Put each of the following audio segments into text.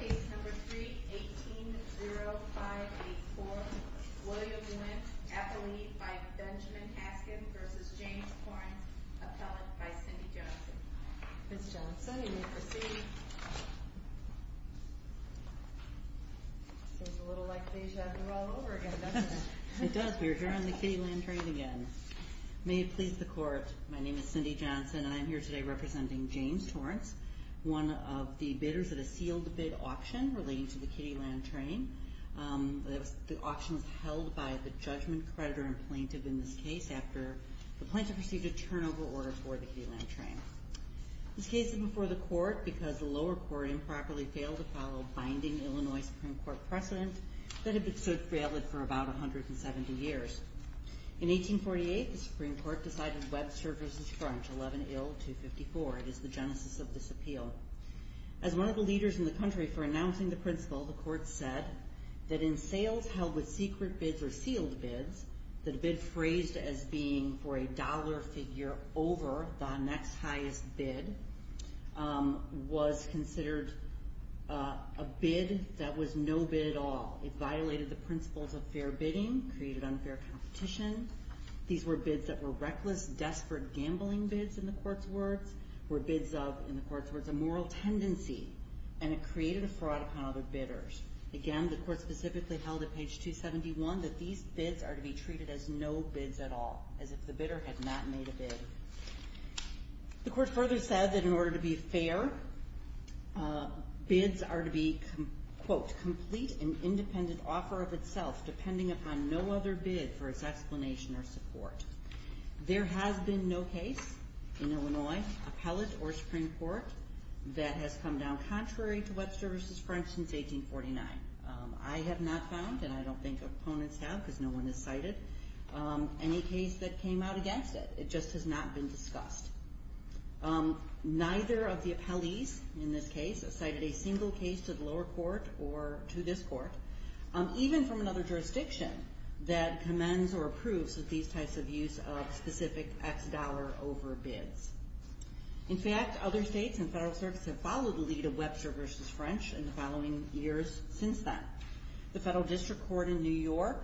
Case No. 3, 18-0584, William Wynne, athlete by Benjamin Haskin v. James Torrence, appellate by Cindy Johnson. Ms. Johnson, you may proceed. Seems a little like Deja Vu all over again, doesn't it? It does. We are here on the Kittiland train again. May it please the Court, my name is Cindy Johnson and I am here today representing James Torrence, one of the bidders that has sealed the bid auction relating to the Kittiland train. The auction was held by the judgment creditor and plaintiff in this case after the plaintiff received a turnover order for the Kittiland train. This case is before the Court because the lower court improperly failed to follow binding Illinois Supreme Court precedent that had been so frail for about 170 years. In 1848, the Supreme Court decided Webster v. Torrence, 11 ill, 254. It is the genesis of this appeal. As one of the leaders in the country for announcing the principle, the Court said that in sales held with secret bids or sealed bids, that a bid phrased as being for a dollar figure over the next highest bid was considered a bid that was no bid at all. It violated the principles of fair bidding, created unfair competition. These were bids that were reckless, desperate gambling bids in the Court's words, were bids of, in the Court's words, a moral tendency. And it created a fraud upon other bidders. Again, the Court specifically held at page 271 that these bids are to be treated as no bids at all, as if the bidder had not made a bid. The Court further said that in order to be fair, bids are to be, quote, complete and independent offer of itself, depending upon no other bid for its explanation or support. There has been no case in Illinois, appellate or Supreme Court, that has come down contrary to Webster v. Torrence since 1849. I have not found, and I don't think opponents have because no one has cited, any case that came out against it. It just has not been discussed. Neither of the appellees in this case cited a single case to the lower court or to this court, even from another jurisdiction that commends or approves of these types of use of specific X dollar over bids. In fact, other states and federal services have followed the lead of Webster v. French in the following years since then. The Federal District Court in New York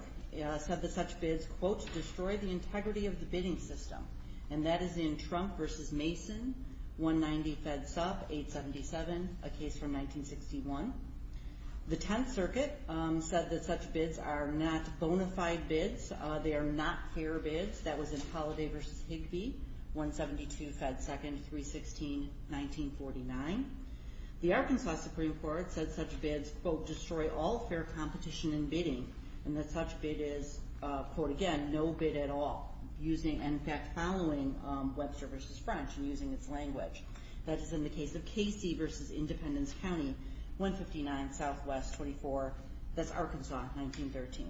said that such bids, quote, destroy the integrity of the bidding system. And that is in Trump v. Mason, 190 fed sup, 877, a case from 1961. The Tenth Circuit said that such bids are not bona fide bids. They are not fair bids. That was in Holliday v. Higbee, 172 fed second, 316, 1949. The Arkansas Supreme Court said such bids, quote, destroy all fair competition in bidding. And that such bid is, quote again, no bid at all. And in fact, following Webster v. French and using its language. That is in the case of Casey v. Independence County, 159 SW 24, that's Arkansas, 1913.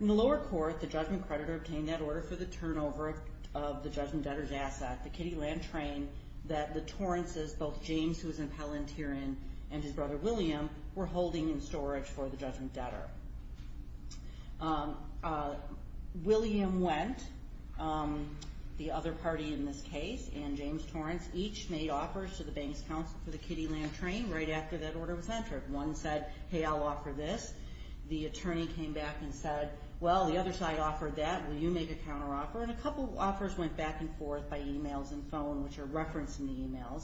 In the lower court, the judgment creditor obtained that order for the turnover of the judgment debtor's asset, the Kitty Land train, that the Torrences, both James, who was an appellant herein, and his brother, William, were holding in storage for the judgment debtor. William went, the other party in this case, and James Torrence, each made offers to the bank's counsel for the Kitty Land train right after that order was entered. One said, hey, I'll offer this. The attorney came back and said, well, the other side offered that. Will you make a counteroffer? And a couple offers went back and forth by emails and phone, which are referenced in the emails,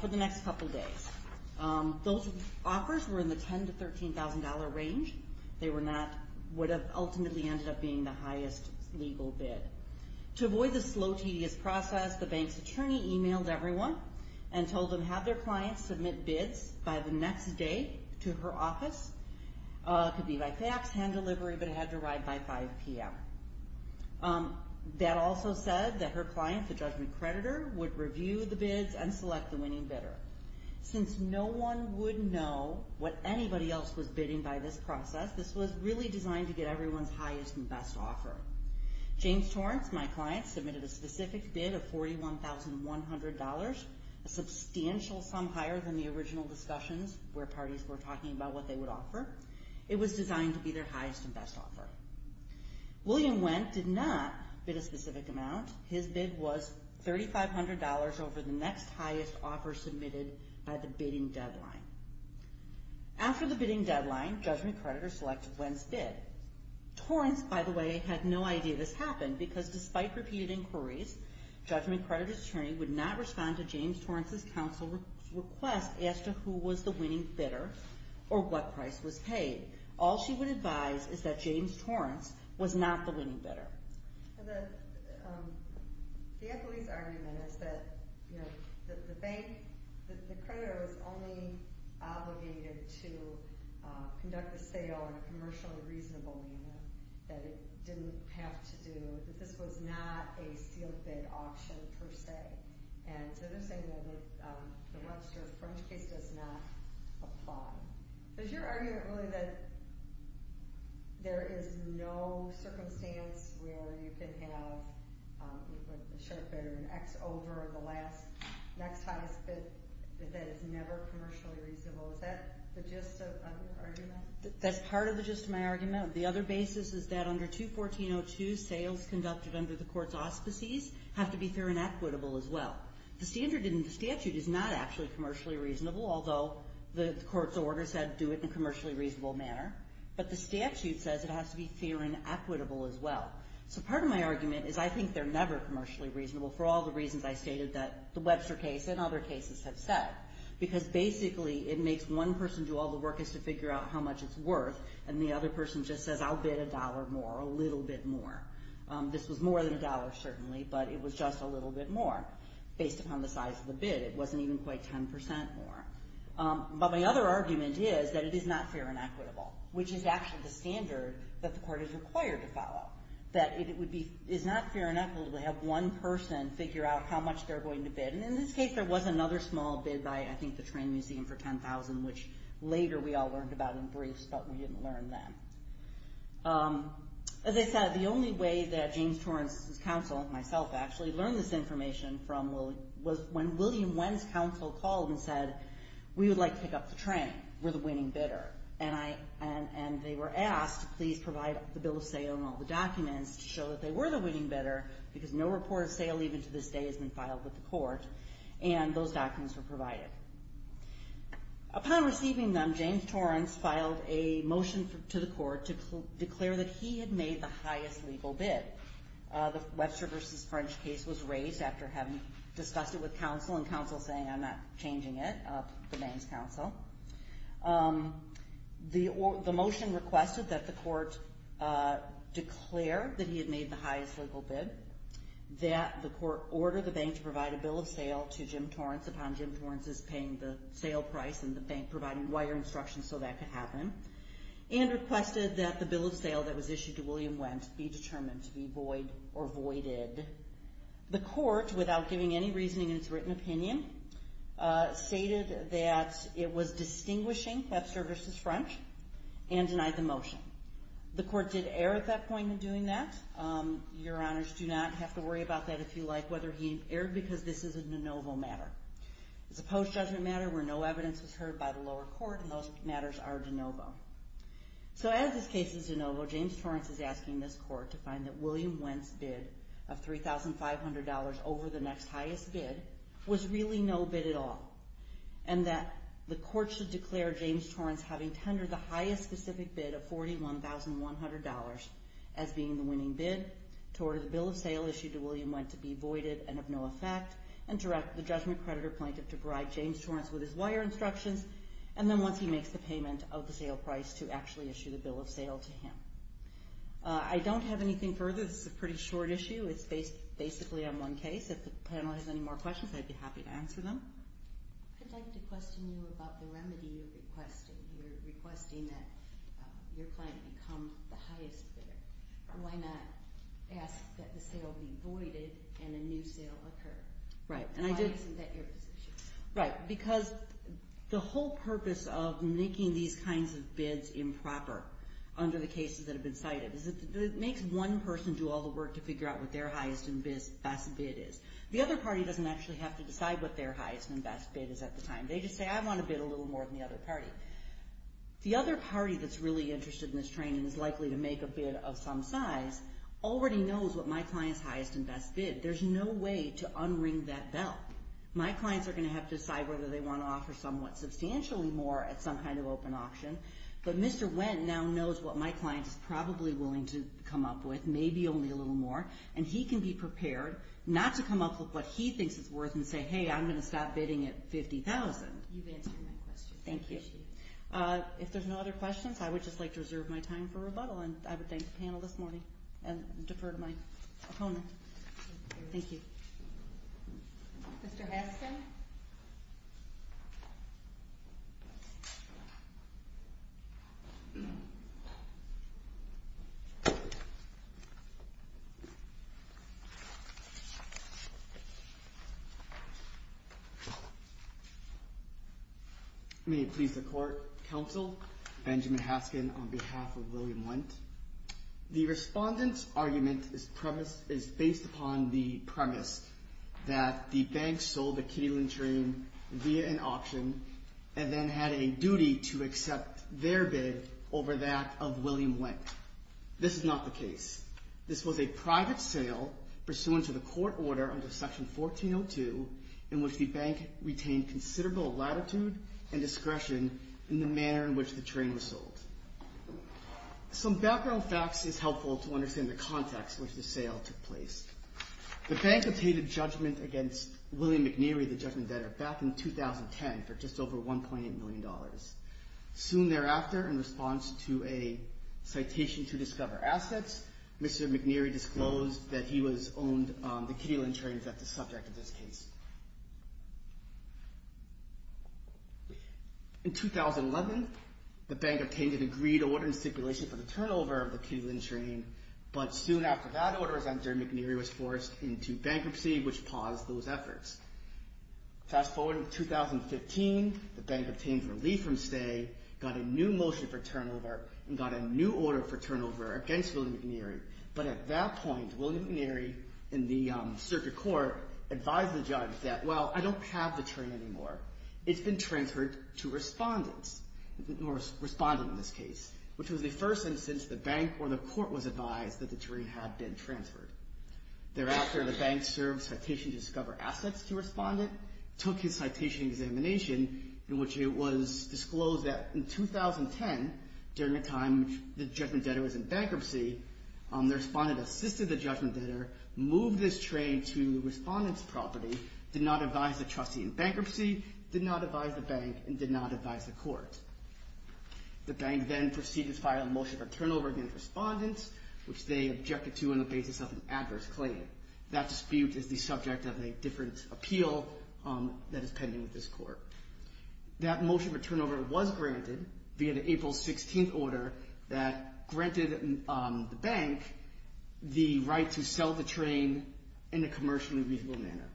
for the next couple days. Those offers were in the $10,000 to $13,000 range. They were not, would have ultimately ended up being the highest legal bid. To avoid the slow, tedious process, the bank's attorney emailed everyone and told them have their clients submit bids by the next day to her office. It could be by fax, hand delivery, but it had to arrive by 5 p.m. That also said that her client, the judgment creditor, would review the bids and select the winning bidder. Since no one would know what anybody else was bidding by this process, this was really designed to get everyone's highest and best offer. James Torrence, my client, submitted a specific bid of $41,100, a substantial sum higher than the original discussions where parties were talking about what they would offer. It was designed to be their highest and best offer. William Wendt did not bid a specific amount. His bid was $3,500 over the next highest offer submitted by the bidding deadline. After the bidding deadline, judgment creditors selected Wendt's bid. Torrence, by the way, had no idea this happened because despite repeated inquiries, judgment creditor's attorney would not respond to James Torrence's counsel's request as to who was the winning bidder or what price was paid. All she would advise is that James Torrence was not the winning bidder. The equity's argument is that the bank, the creditor, is only obligated to conduct the sale in a commercially reasonable manner, that it didn't have to do, that this was not a sealed bid auction per se. And so they're saying that the Webster-French case does not apply. Is your argument really that there is no circumstance where you can have a share bidder in X over the next highest bid that is never commercially reasonable? Is that the gist of your argument? That's part of the gist of my argument. The other basis is that under 214.02, sales conducted under the court's auspices have to be fair and equitable as well. The standard in the statute is not actually commercially reasonable, although the court's order said do it in a commercially reasonable manner. But the statute says it has to be fair and equitable as well. So part of my argument is I think they're never commercially reasonable for all the reasons I stated that the Webster case and other cases have said. Because basically, it makes one person do all the work as to figure out how much it's worth, and the other person just says, I'll bid a dollar more, a little bit more. This was more than a dollar, certainly, but it was just a little bit more. Based upon the size of the bid, it wasn't even quite 10% more. But my other argument is that it is not fair and equitable, which is actually the standard that the court is required to follow. That it is not fair and equitable to have one person figure out how much they're going to bid. And in this case, there was another small bid by, I think, the Train Museum for $10,000, which later we all learned about in briefs, but we didn't learn then. As I said, the only way that James Torrance's counsel, myself, actually learned this information was when William Nguyen's counsel called and said, we would like to pick up the train. We're the winning bidder. And they were asked, please provide the bill of sale and all the documents to show that they were the winning bidder, because no report of sale even to this day has been filed with the court. And those documents were provided. Upon receiving them, James Torrance filed a motion to the court to declare that he had made the highest legal bid. The Webster v. French case was raised after having discussed it with counsel and counsel saying, I'm not changing it. The bank's counsel. The motion requested that the court declare that he had made the highest legal bid. That the court order the bank to provide a bill of sale to Jim Torrance upon Jim Torrance's paying the sale price and the bank providing wire instruction so that could happen. And requested that the bill of sale that was issued to William Nguyen be determined to be void or voided. The court, without giving any reasoning in its written opinion, stated that it was distinguishing Webster v. French and denied the motion. The court did err at that point in doing that. Your honors do not have to worry about that if you like, whether he erred, because this is a de novo matter. It's a post-judgment matter where no evidence was heard by the lower court, and those matters are de novo. So as this case is de novo, James Torrance is asking this court to find that William Nguyen's bid of $3,500 over the next highest bid was really no bid at all. And that the court should declare James Torrance having tendered the highest specific bid of $41,100 as being the winning bid to order the bill of sale issued to William Nguyen to be voided and of no effect, and direct the judgment creditor plaintiff to provide James Torrance with his wire instructions, and then once he makes the payment of the sale price to actually issue the bill of sale to him. I don't have anything further. This is a pretty short issue. It's based basically on one case. If the panel has any more questions, I'd be happy to answer them. I'd like to question you about the remedy you're requesting. You're requesting that your client become the highest bidder. Why not ask that the sale be voided and a new sale occur? Why isn't that your position? Right, because the whole purpose of making these kinds of bids improper under the cases that have been cited is that it makes one person do all the work to figure out what their highest and best bid is. The other party doesn't actually have to decide what their highest and best bid is at the time. They just say, I want to bid a little more than the other party. The other party that's really interested in this training and is likely to make a bid of some size already knows what my client's highest and best bid. There's no way to unring that bell. My clients are going to have to decide whether they want to offer somewhat substantially more at some kind of open auction. But Mr. Wendt now knows what my client is probably willing to come up with, maybe only a little more, and he can be prepared not to come up with what he thinks it's worth and say, hey, I'm going to stop bidding at $50,000. You've answered my question. Thank you. If there's no other questions, I would just like to reserve my time for rebuttal and I would thank the panel this morning and defer to my opponent. Thank you. Mr. Haskin? May it please the court, counsel, Benjamin Haskin on behalf of William Wendt. The respondent's argument is based upon the premise that the bank sold the Kitty Lynn train via an auction and then had a duty to accept their bid over that of William Wendt. This is not the case. This was a private sale pursuant to the court order under Section 1402 in which the bank retained considerable latitude and discretion in the manner in which the train was sold. Some background facts is helpful to understand the context in which the sale took place. The bank obtained a judgment against William McNeary, the judgment debtor, back in 2010 for just over $1.8 million. Soon thereafter, in response to a citation to discover assets, Mr. McNeary disclosed that he owned the Kitty Lynn train that's the subject of this case. In 2011, the bank obtained an agreed order in stipulation for the turnover of the Kitty Lynn train, but soon after that order was entered, McNeary was forced into bankruptcy, which paused those efforts. Fast forward to 2015. The bank obtained relief from stay, got a new motion for turnover, and got a new order for turnover against William McNeary. But at that point, William McNeary, in the circuit court, advised the judge that, well, I don't have the train anymore. It's been transferred to respondents, or respondent in this case, which was the first instance the bank or the court was advised that the train had been transferred. Thereafter, the bank served citation to discover assets to respondent, took his citation examination, in which it was disclosed that in 2010, during the time the judgment debtor was in bankruptcy, the respondent assisted the judgment debtor, moved this train to the respondent's property, did not advise the trustee in bankruptcy, did not advise the bank, and did not advise the court. The bank then proceeded to file a motion for turnover against respondents, which they objected to on the basis of an adverse claim. That dispute is the subject of a different appeal that is pending with this court. That motion for turnover was granted via the April 16th order that granted the bank the right to sell the train in a commercially reasonable manner.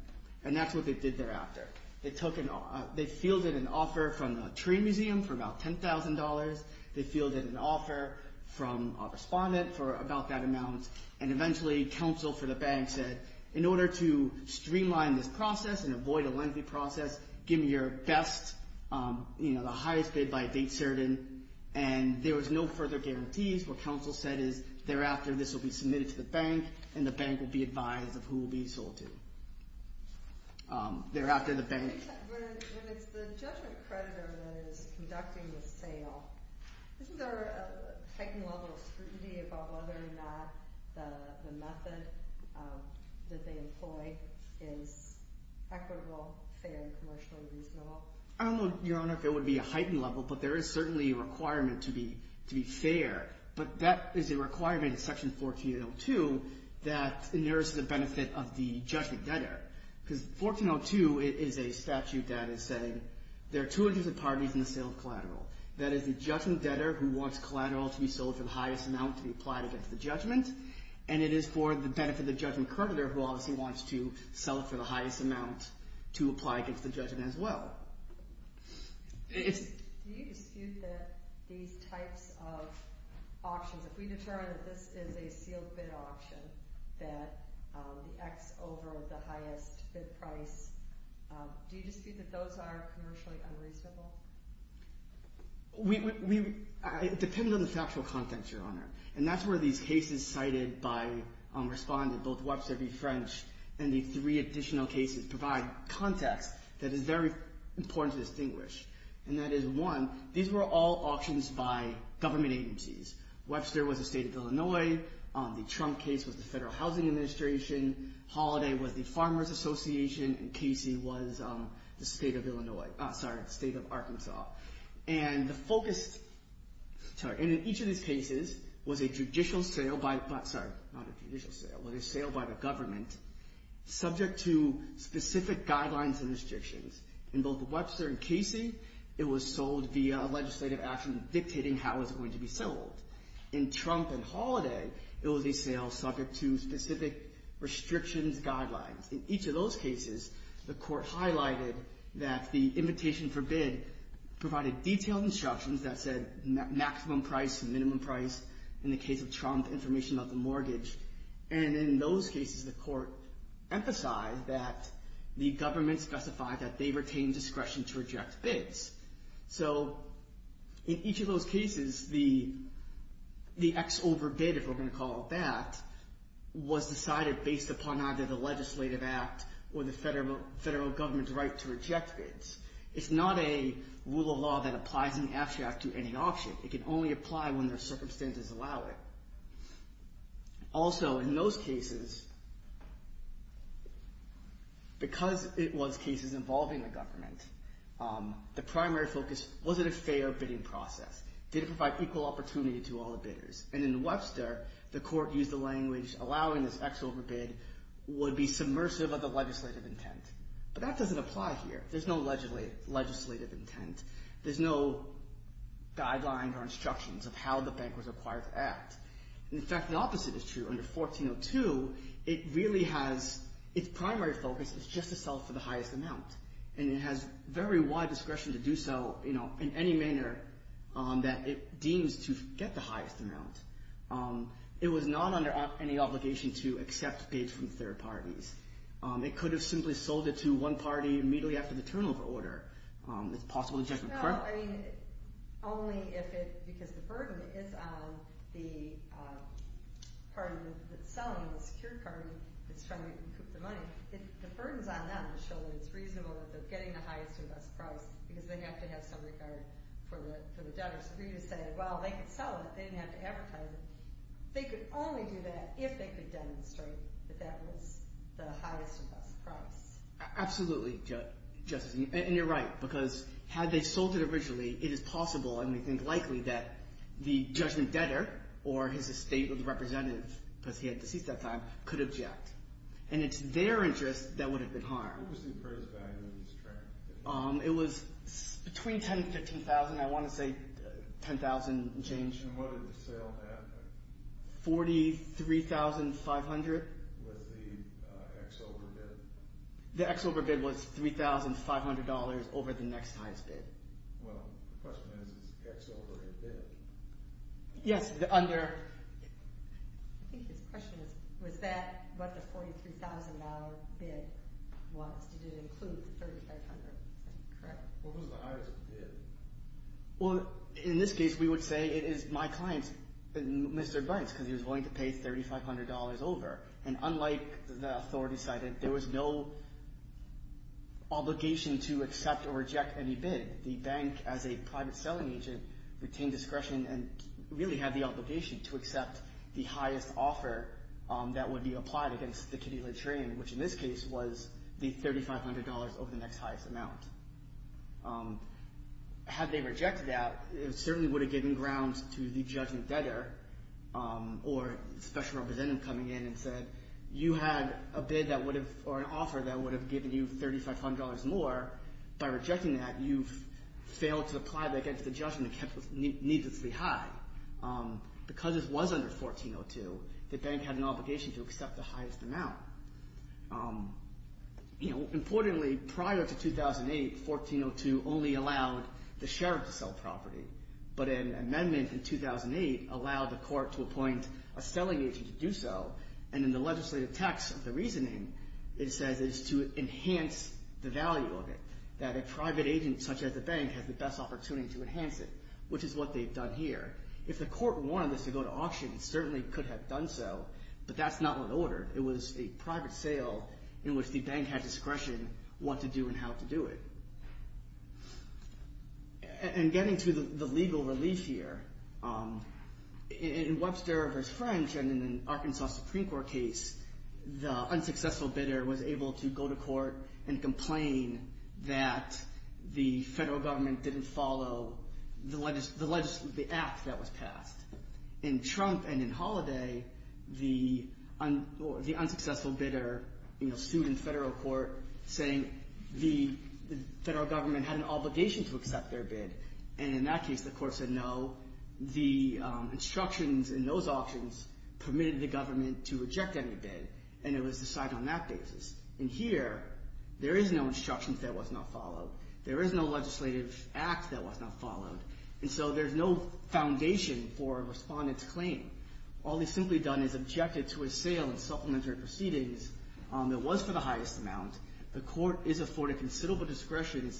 And that's what they did thereafter. They fielded an offer from the train museum for about $10,000. They fielded an offer from a respondent for about that amount. And eventually, counsel for the bank said, in order to streamline this process and avoid a lengthy process, give me your best, the highest bid by a date certain. And there was no further guarantees. What counsel said is, thereafter, this will be submitted to the bank, and the bank will be advised of who will be sold to. Thereafter, the bank... When it's the judgment creditor that is conducting the sale, isn't there a heightened level of scrutiny about whether or not the method that they employ is equitable, fair, and commercially reasonable? I don't know, Your Honor, if it would be a heightened level, but there is certainly a requirement to be fair. But that is a requirement in Section 1402 that inheres the benefit of the judgment debtor. Because 1402 is a statute that is saying, there are two aggressive parties in the sale of collateral. That is the judgment debtor, who wants collateral to be sold for the highest amount to be applied against the judgment. And it is for the benefit of the judgment creditor, who obviously wants to sell it for the highest amount to apply against the judgment as well. Do you dispute that these types of options... ...that the X over the highest bid price... Do you dispute that those are commercially unreasonable? We... It depends on the factual context, Your Honor. And that's where these cases cited by Respondent, both Webster v. French, and the three additional cases, provide context that is very important to distinguish. And that is, one, these were all options by government agencies. Webster was a state of Illinois. The Trump case was the Federal Housing Administration. Holliday was the Farmers Association. And Casey was the state of Arkansas. And the focus... And in each of these cases was a judicial sale by... Sorry, not a judicial sale, but a sale by the government subject to specific guidelines and restrictions. In both Webster and Casey, it was sold via legislative action dictating how it was going to be sold. In Trump and Holliday, it was a sale subject to specific restrictions guidelines. In each of those cases, the Court highlighted that the invitation for bid provided detailed instructions that said maximum price, minimum price. In the case of Trump, information about the mortgage. And in those cases, the Court emphasized that the government specified that they retain discretion to reject bids. So in each of those cases, the X over bid, if we're going to call it that, was decided based upon either the legislative act or the federal government's right to reject bids. It's not a rule of law that applies in the abstract to any option. It can only apply when the circumstances allow it. Also, in those cases, because it was cases involving the government, the primary focus wasn't a fair bidding process. Did it provide equal opportunity to all the bidders? And in Webster, the Court used the language allowing this X over bid would be submersive of the legislative intent. But that doesn't apply here. There's no legislative intent. There's no guidelines or instructions of how the bank was required to act. In fact, the opposite is true. Under 1402, its primary focus is just to sell for the highest amount. And it has very wide discretion to do so in any manner that it deems to get the highest amount. It was not under any obligation to accept bids from third parties. It could have simply sold it to one party immediately after the turnover order. It's possible to reject them, correct? No, I mean, only if it... If it depends on the party that's selling the secured card that's trying to recoup the money. The burdens on them show that it's reasonable that they're getting the highest and best price because they have to have some regard for the debtors. If you just say, well, they could sell it. They didn't have to advertise it. They could only do that if they could demonstrate that that was the highest and best price. Absolutely, Justice, and you're right because had they sold it originally, it is possible and we think likely that the judgment debtor or his estate or the representative because he had deceased at that time, could object. And it's their interest that would have been harmed. What was the appraised value of this transaction? It was between $10,000 and $15,000, I want to say $10,000 and change. And what did the sale have? $43,500. Was the X over bid? The X over bid was $3,500 over the next highest bid. Well, the question is, is X over a bid? Yes, under... I think his question is, was that what the $43,000 bid was? Did it include $3,500? Is that correct? What was the highest bid? In this case, we would say it is my client, Mr. Bynes because he was willing to pay $3,500 over. And unlike the authority side, there was no obligation to accept or reject any bid. The bank, as a private selling agent, retained discretion and really had the obligation to accept the highest offer that would be applied against the kitty latrine, which in this case was the $3,500 over the next highest amount. Had they rejected that, it certainly would have given ground to the judgment debtor or special representative coming in and said, you had a bid that would have... or an offer that would have given you $3,500 more. By rejecting that, you've failed to apply that against the judgment, which was needlessly high. Because this was under 1402, the bank had an obligation to accept the highest amount. Importantly, prior to 2008, 1402 only allowed the sheriff to sell property. But an amendment in 2008 allowed the court to appoint a selling agent to do so. And in the legislative text of the reasoning, it says it is to enhance the value of it, that a private agent such as the bank has the best opportunity to enhance it, which is what they've done here. If the court wanted this to go to auction, it certainly could have done so. But that's not what ordered. It was a private sale in which the bank had discretion what to do and how to do it. And getting to the legal relief here, in Webster v. French and in an Arkansas Supreme Court case, the unsuccessful bidder was able to go to court and complain that the federal government didn't follow the act that was passed. In Trump and in Holladay, the unsuccessful bidder sued in federal court saying the federal government had an obligation to accept their bid. And in that case, the court said no. The instructions in those auctions permitted the government to reject any bid. And it was decided on that basis. And here, there is no instructions that was not followed. There is no legislative act that was not followed. And so there's no foundation for a respondent's claim. All he's simply done is objected to a sale in supplementary proceedings that was for the highest amount. The court is afforded considerable discretion in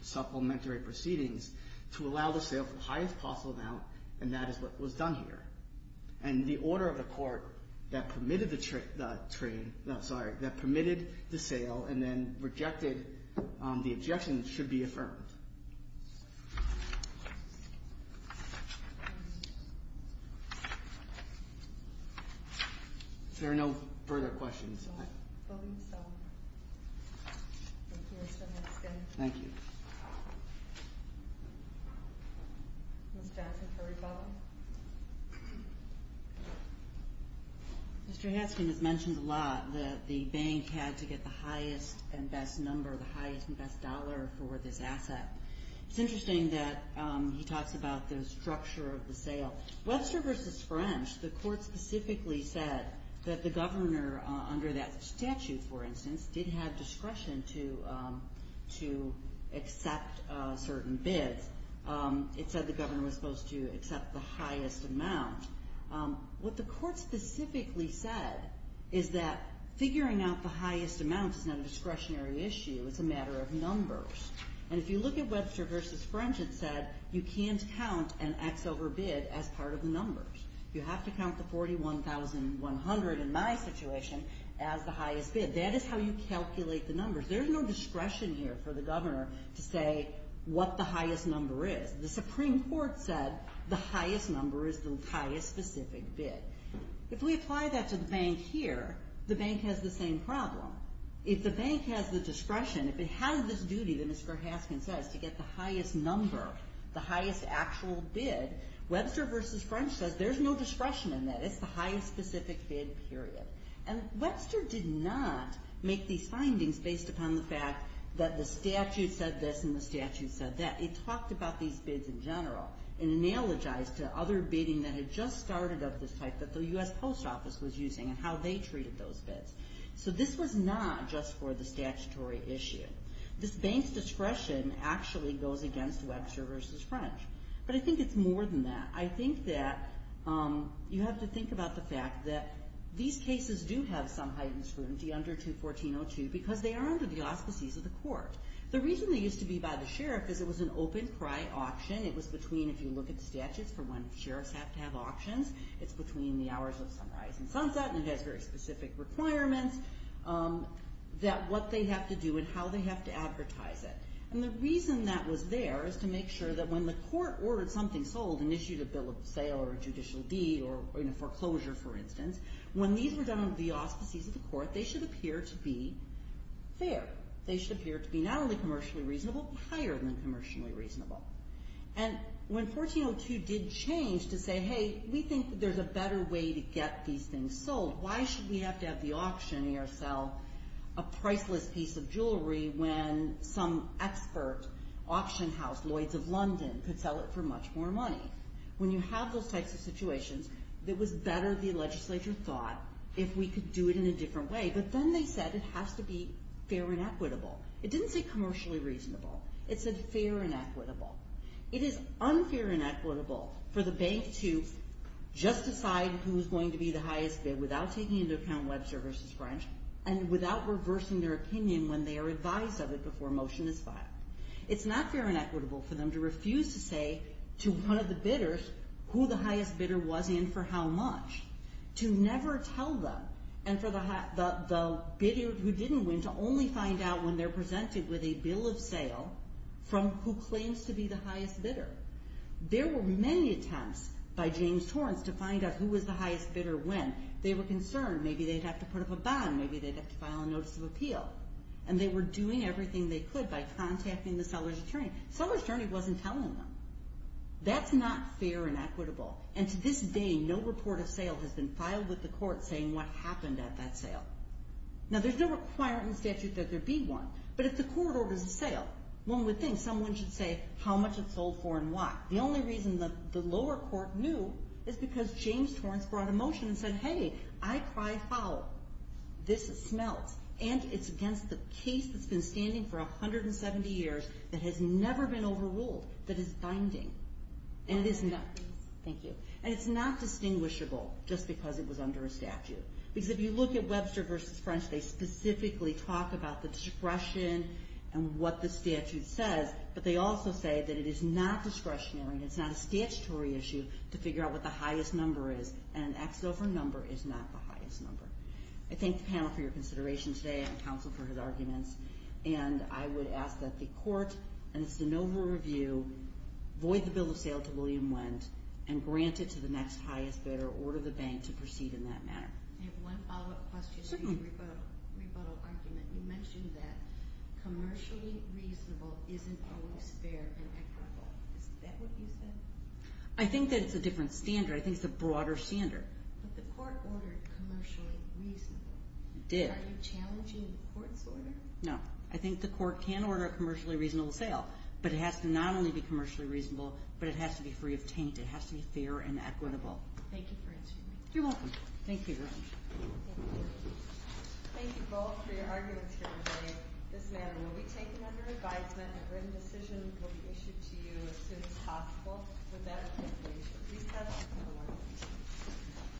supplementary proceedings to allow the sale for the highest possible amount, and that is what was done here. And the order of the court that permitted the sale and then rejected the objection should be affirmed. Is there no further questions? I believe so. Thank you. Ms. Jackson for rebuttal? Mr. Haskin has mentioned a lot that the bank had to get the highest and best number, the highest and best dollar for this asset. It's interesting that he talks about the structure of the sale. Webster v. French, the court specifically said that the governor under that statute, for instance, did have discretion to accept certain bids. It said the governor was supposed to accept the highest amount. What the court specifically said is that figuring out the highest amount is not a discretionary issue. It's a matter of numbers. And if you look at Webster v. French, it said you can't count an X over bid as part of the numbers. You have to count the $41,100 in my situation as the highest bid. That is how you calculate the numbers. There's no discretion here for the governor to say what the highest number is. The Supreme Court said the highest number is the highest specific bid. If we apply that to the bank here, the bank has the same problem. If the bank has the discretion, if it has this duty that Mr. Haskin says to get the highest number, the highest actual bid, Webster v. French says there's no discretion in that. It's the highest specific bid, period. And Webster did not make these findings based upon the fact that the statute said this and the statute said that. It talked about these bids in general and analogized to other bidding that had just started of this type that the U.S. Post Office was using and how they treated those bids. So this was not just for the statutory issue. This bank's discretion actually goes against Webster v. French. But I think it's more than that. I think that you have to think about the fact that these cases do have some heightened scrutiny under 214.02 because they are under the auspices of the court. The reason they used to be by the sheriff is it was an open cry auction. It was between, if you look at the statutes for when sheriffs have to have auctions, it's between the hours of sunrise and sunset and it has very specific requirements that what they have to do and how they have to advertise it. And the reason that was there is to make sure that when the court ordered something sold and issued a bill of sale or a judicial deed or foreclosure, for instance, when these were done under the auspices of the court, they should appear to be fair. They should appear to be not only commercially reasonable but higher than commercially reasonable. And when 14.02 did change to say, hey, we think there's a better way to get these things sold. Why should we have to have the auctioneer sell a priceless piece of jewelry when some expert auction house, Lloyd's of London, could sell it for much more money? When you have those types of situations it was better the legislature thought if we could do it in a different way. But then they said it has to be fair and equitable. It didn't say commercially reasonable. It said fair and equitable. It is unfair and equitable for the bank to just decide who is going to be the highest bid without taking into account Webster v. French and without reversing their opinion when they are advised of it before a motion is filed. It's not fair and equitable for them to refuse to say to one of the bidders who the highest bidder was and for how much. To never tell them and for the bidder who didn't win to only find out when they're presented with a bill of sale from who claims to be the highest bidder. There were many attempts by James Torrance to find out who was the highest bidder when. They were concerned maybe they'd have to put up a bond. Maybe they'd have to file a notice of appeal. And they were doing everything they could by contacting the seller's attorney. The seller's attorney wasn't telling them. That's not fair and equitable. And to this day no report of sale has been filed with the court saying what happened at that sale. Now there's no requirement in the statute that there be one. But if the court orders a sale one would think someone should say how much it sold for and what. The only reason the lower court knew is because James Torrance brought a motion and said, hey, I cry foul. This smelts. And it's against the case that's been standing for 170 years that has never been overruled, that is binding. And it's not distinguishable just because it was under a statute. Because if you look at Webster v. French, they specifically talk about the discretion and what the statute says but they also say that it is not discretionary and it's not a statutory issue to figure out what the highest number is. And an X over number is not the highest number. I thank the panel for your consideration today. I'm counsel for his arguments. And I would ask that the court and the Sanova Review void the bill of sale to William Wendt and grant it to the next highest bidder or order the bank to proceed in that manner. I have one follow-up question on the rebuttal argument. You mentioned that commercially reasonable isn't always fair and equitable. Is that what you said? I think that it's a different standard. I think it's a broader standard. But the court ordered commercially reasonable. It did. Are you challenging the court's order? No. I think the court can order a commercially reasonable sale. But it has to not only be commercially reasonable, but it has to be free of taint. It has to be fair and equitable. Thank you for answering me. You're welcome. Thank you, Your Honor. Thank you both for your arguments here today. This matter will be taken under advisement. A written decision will be issued to you as soon as possible. Without further ado, please have a seat.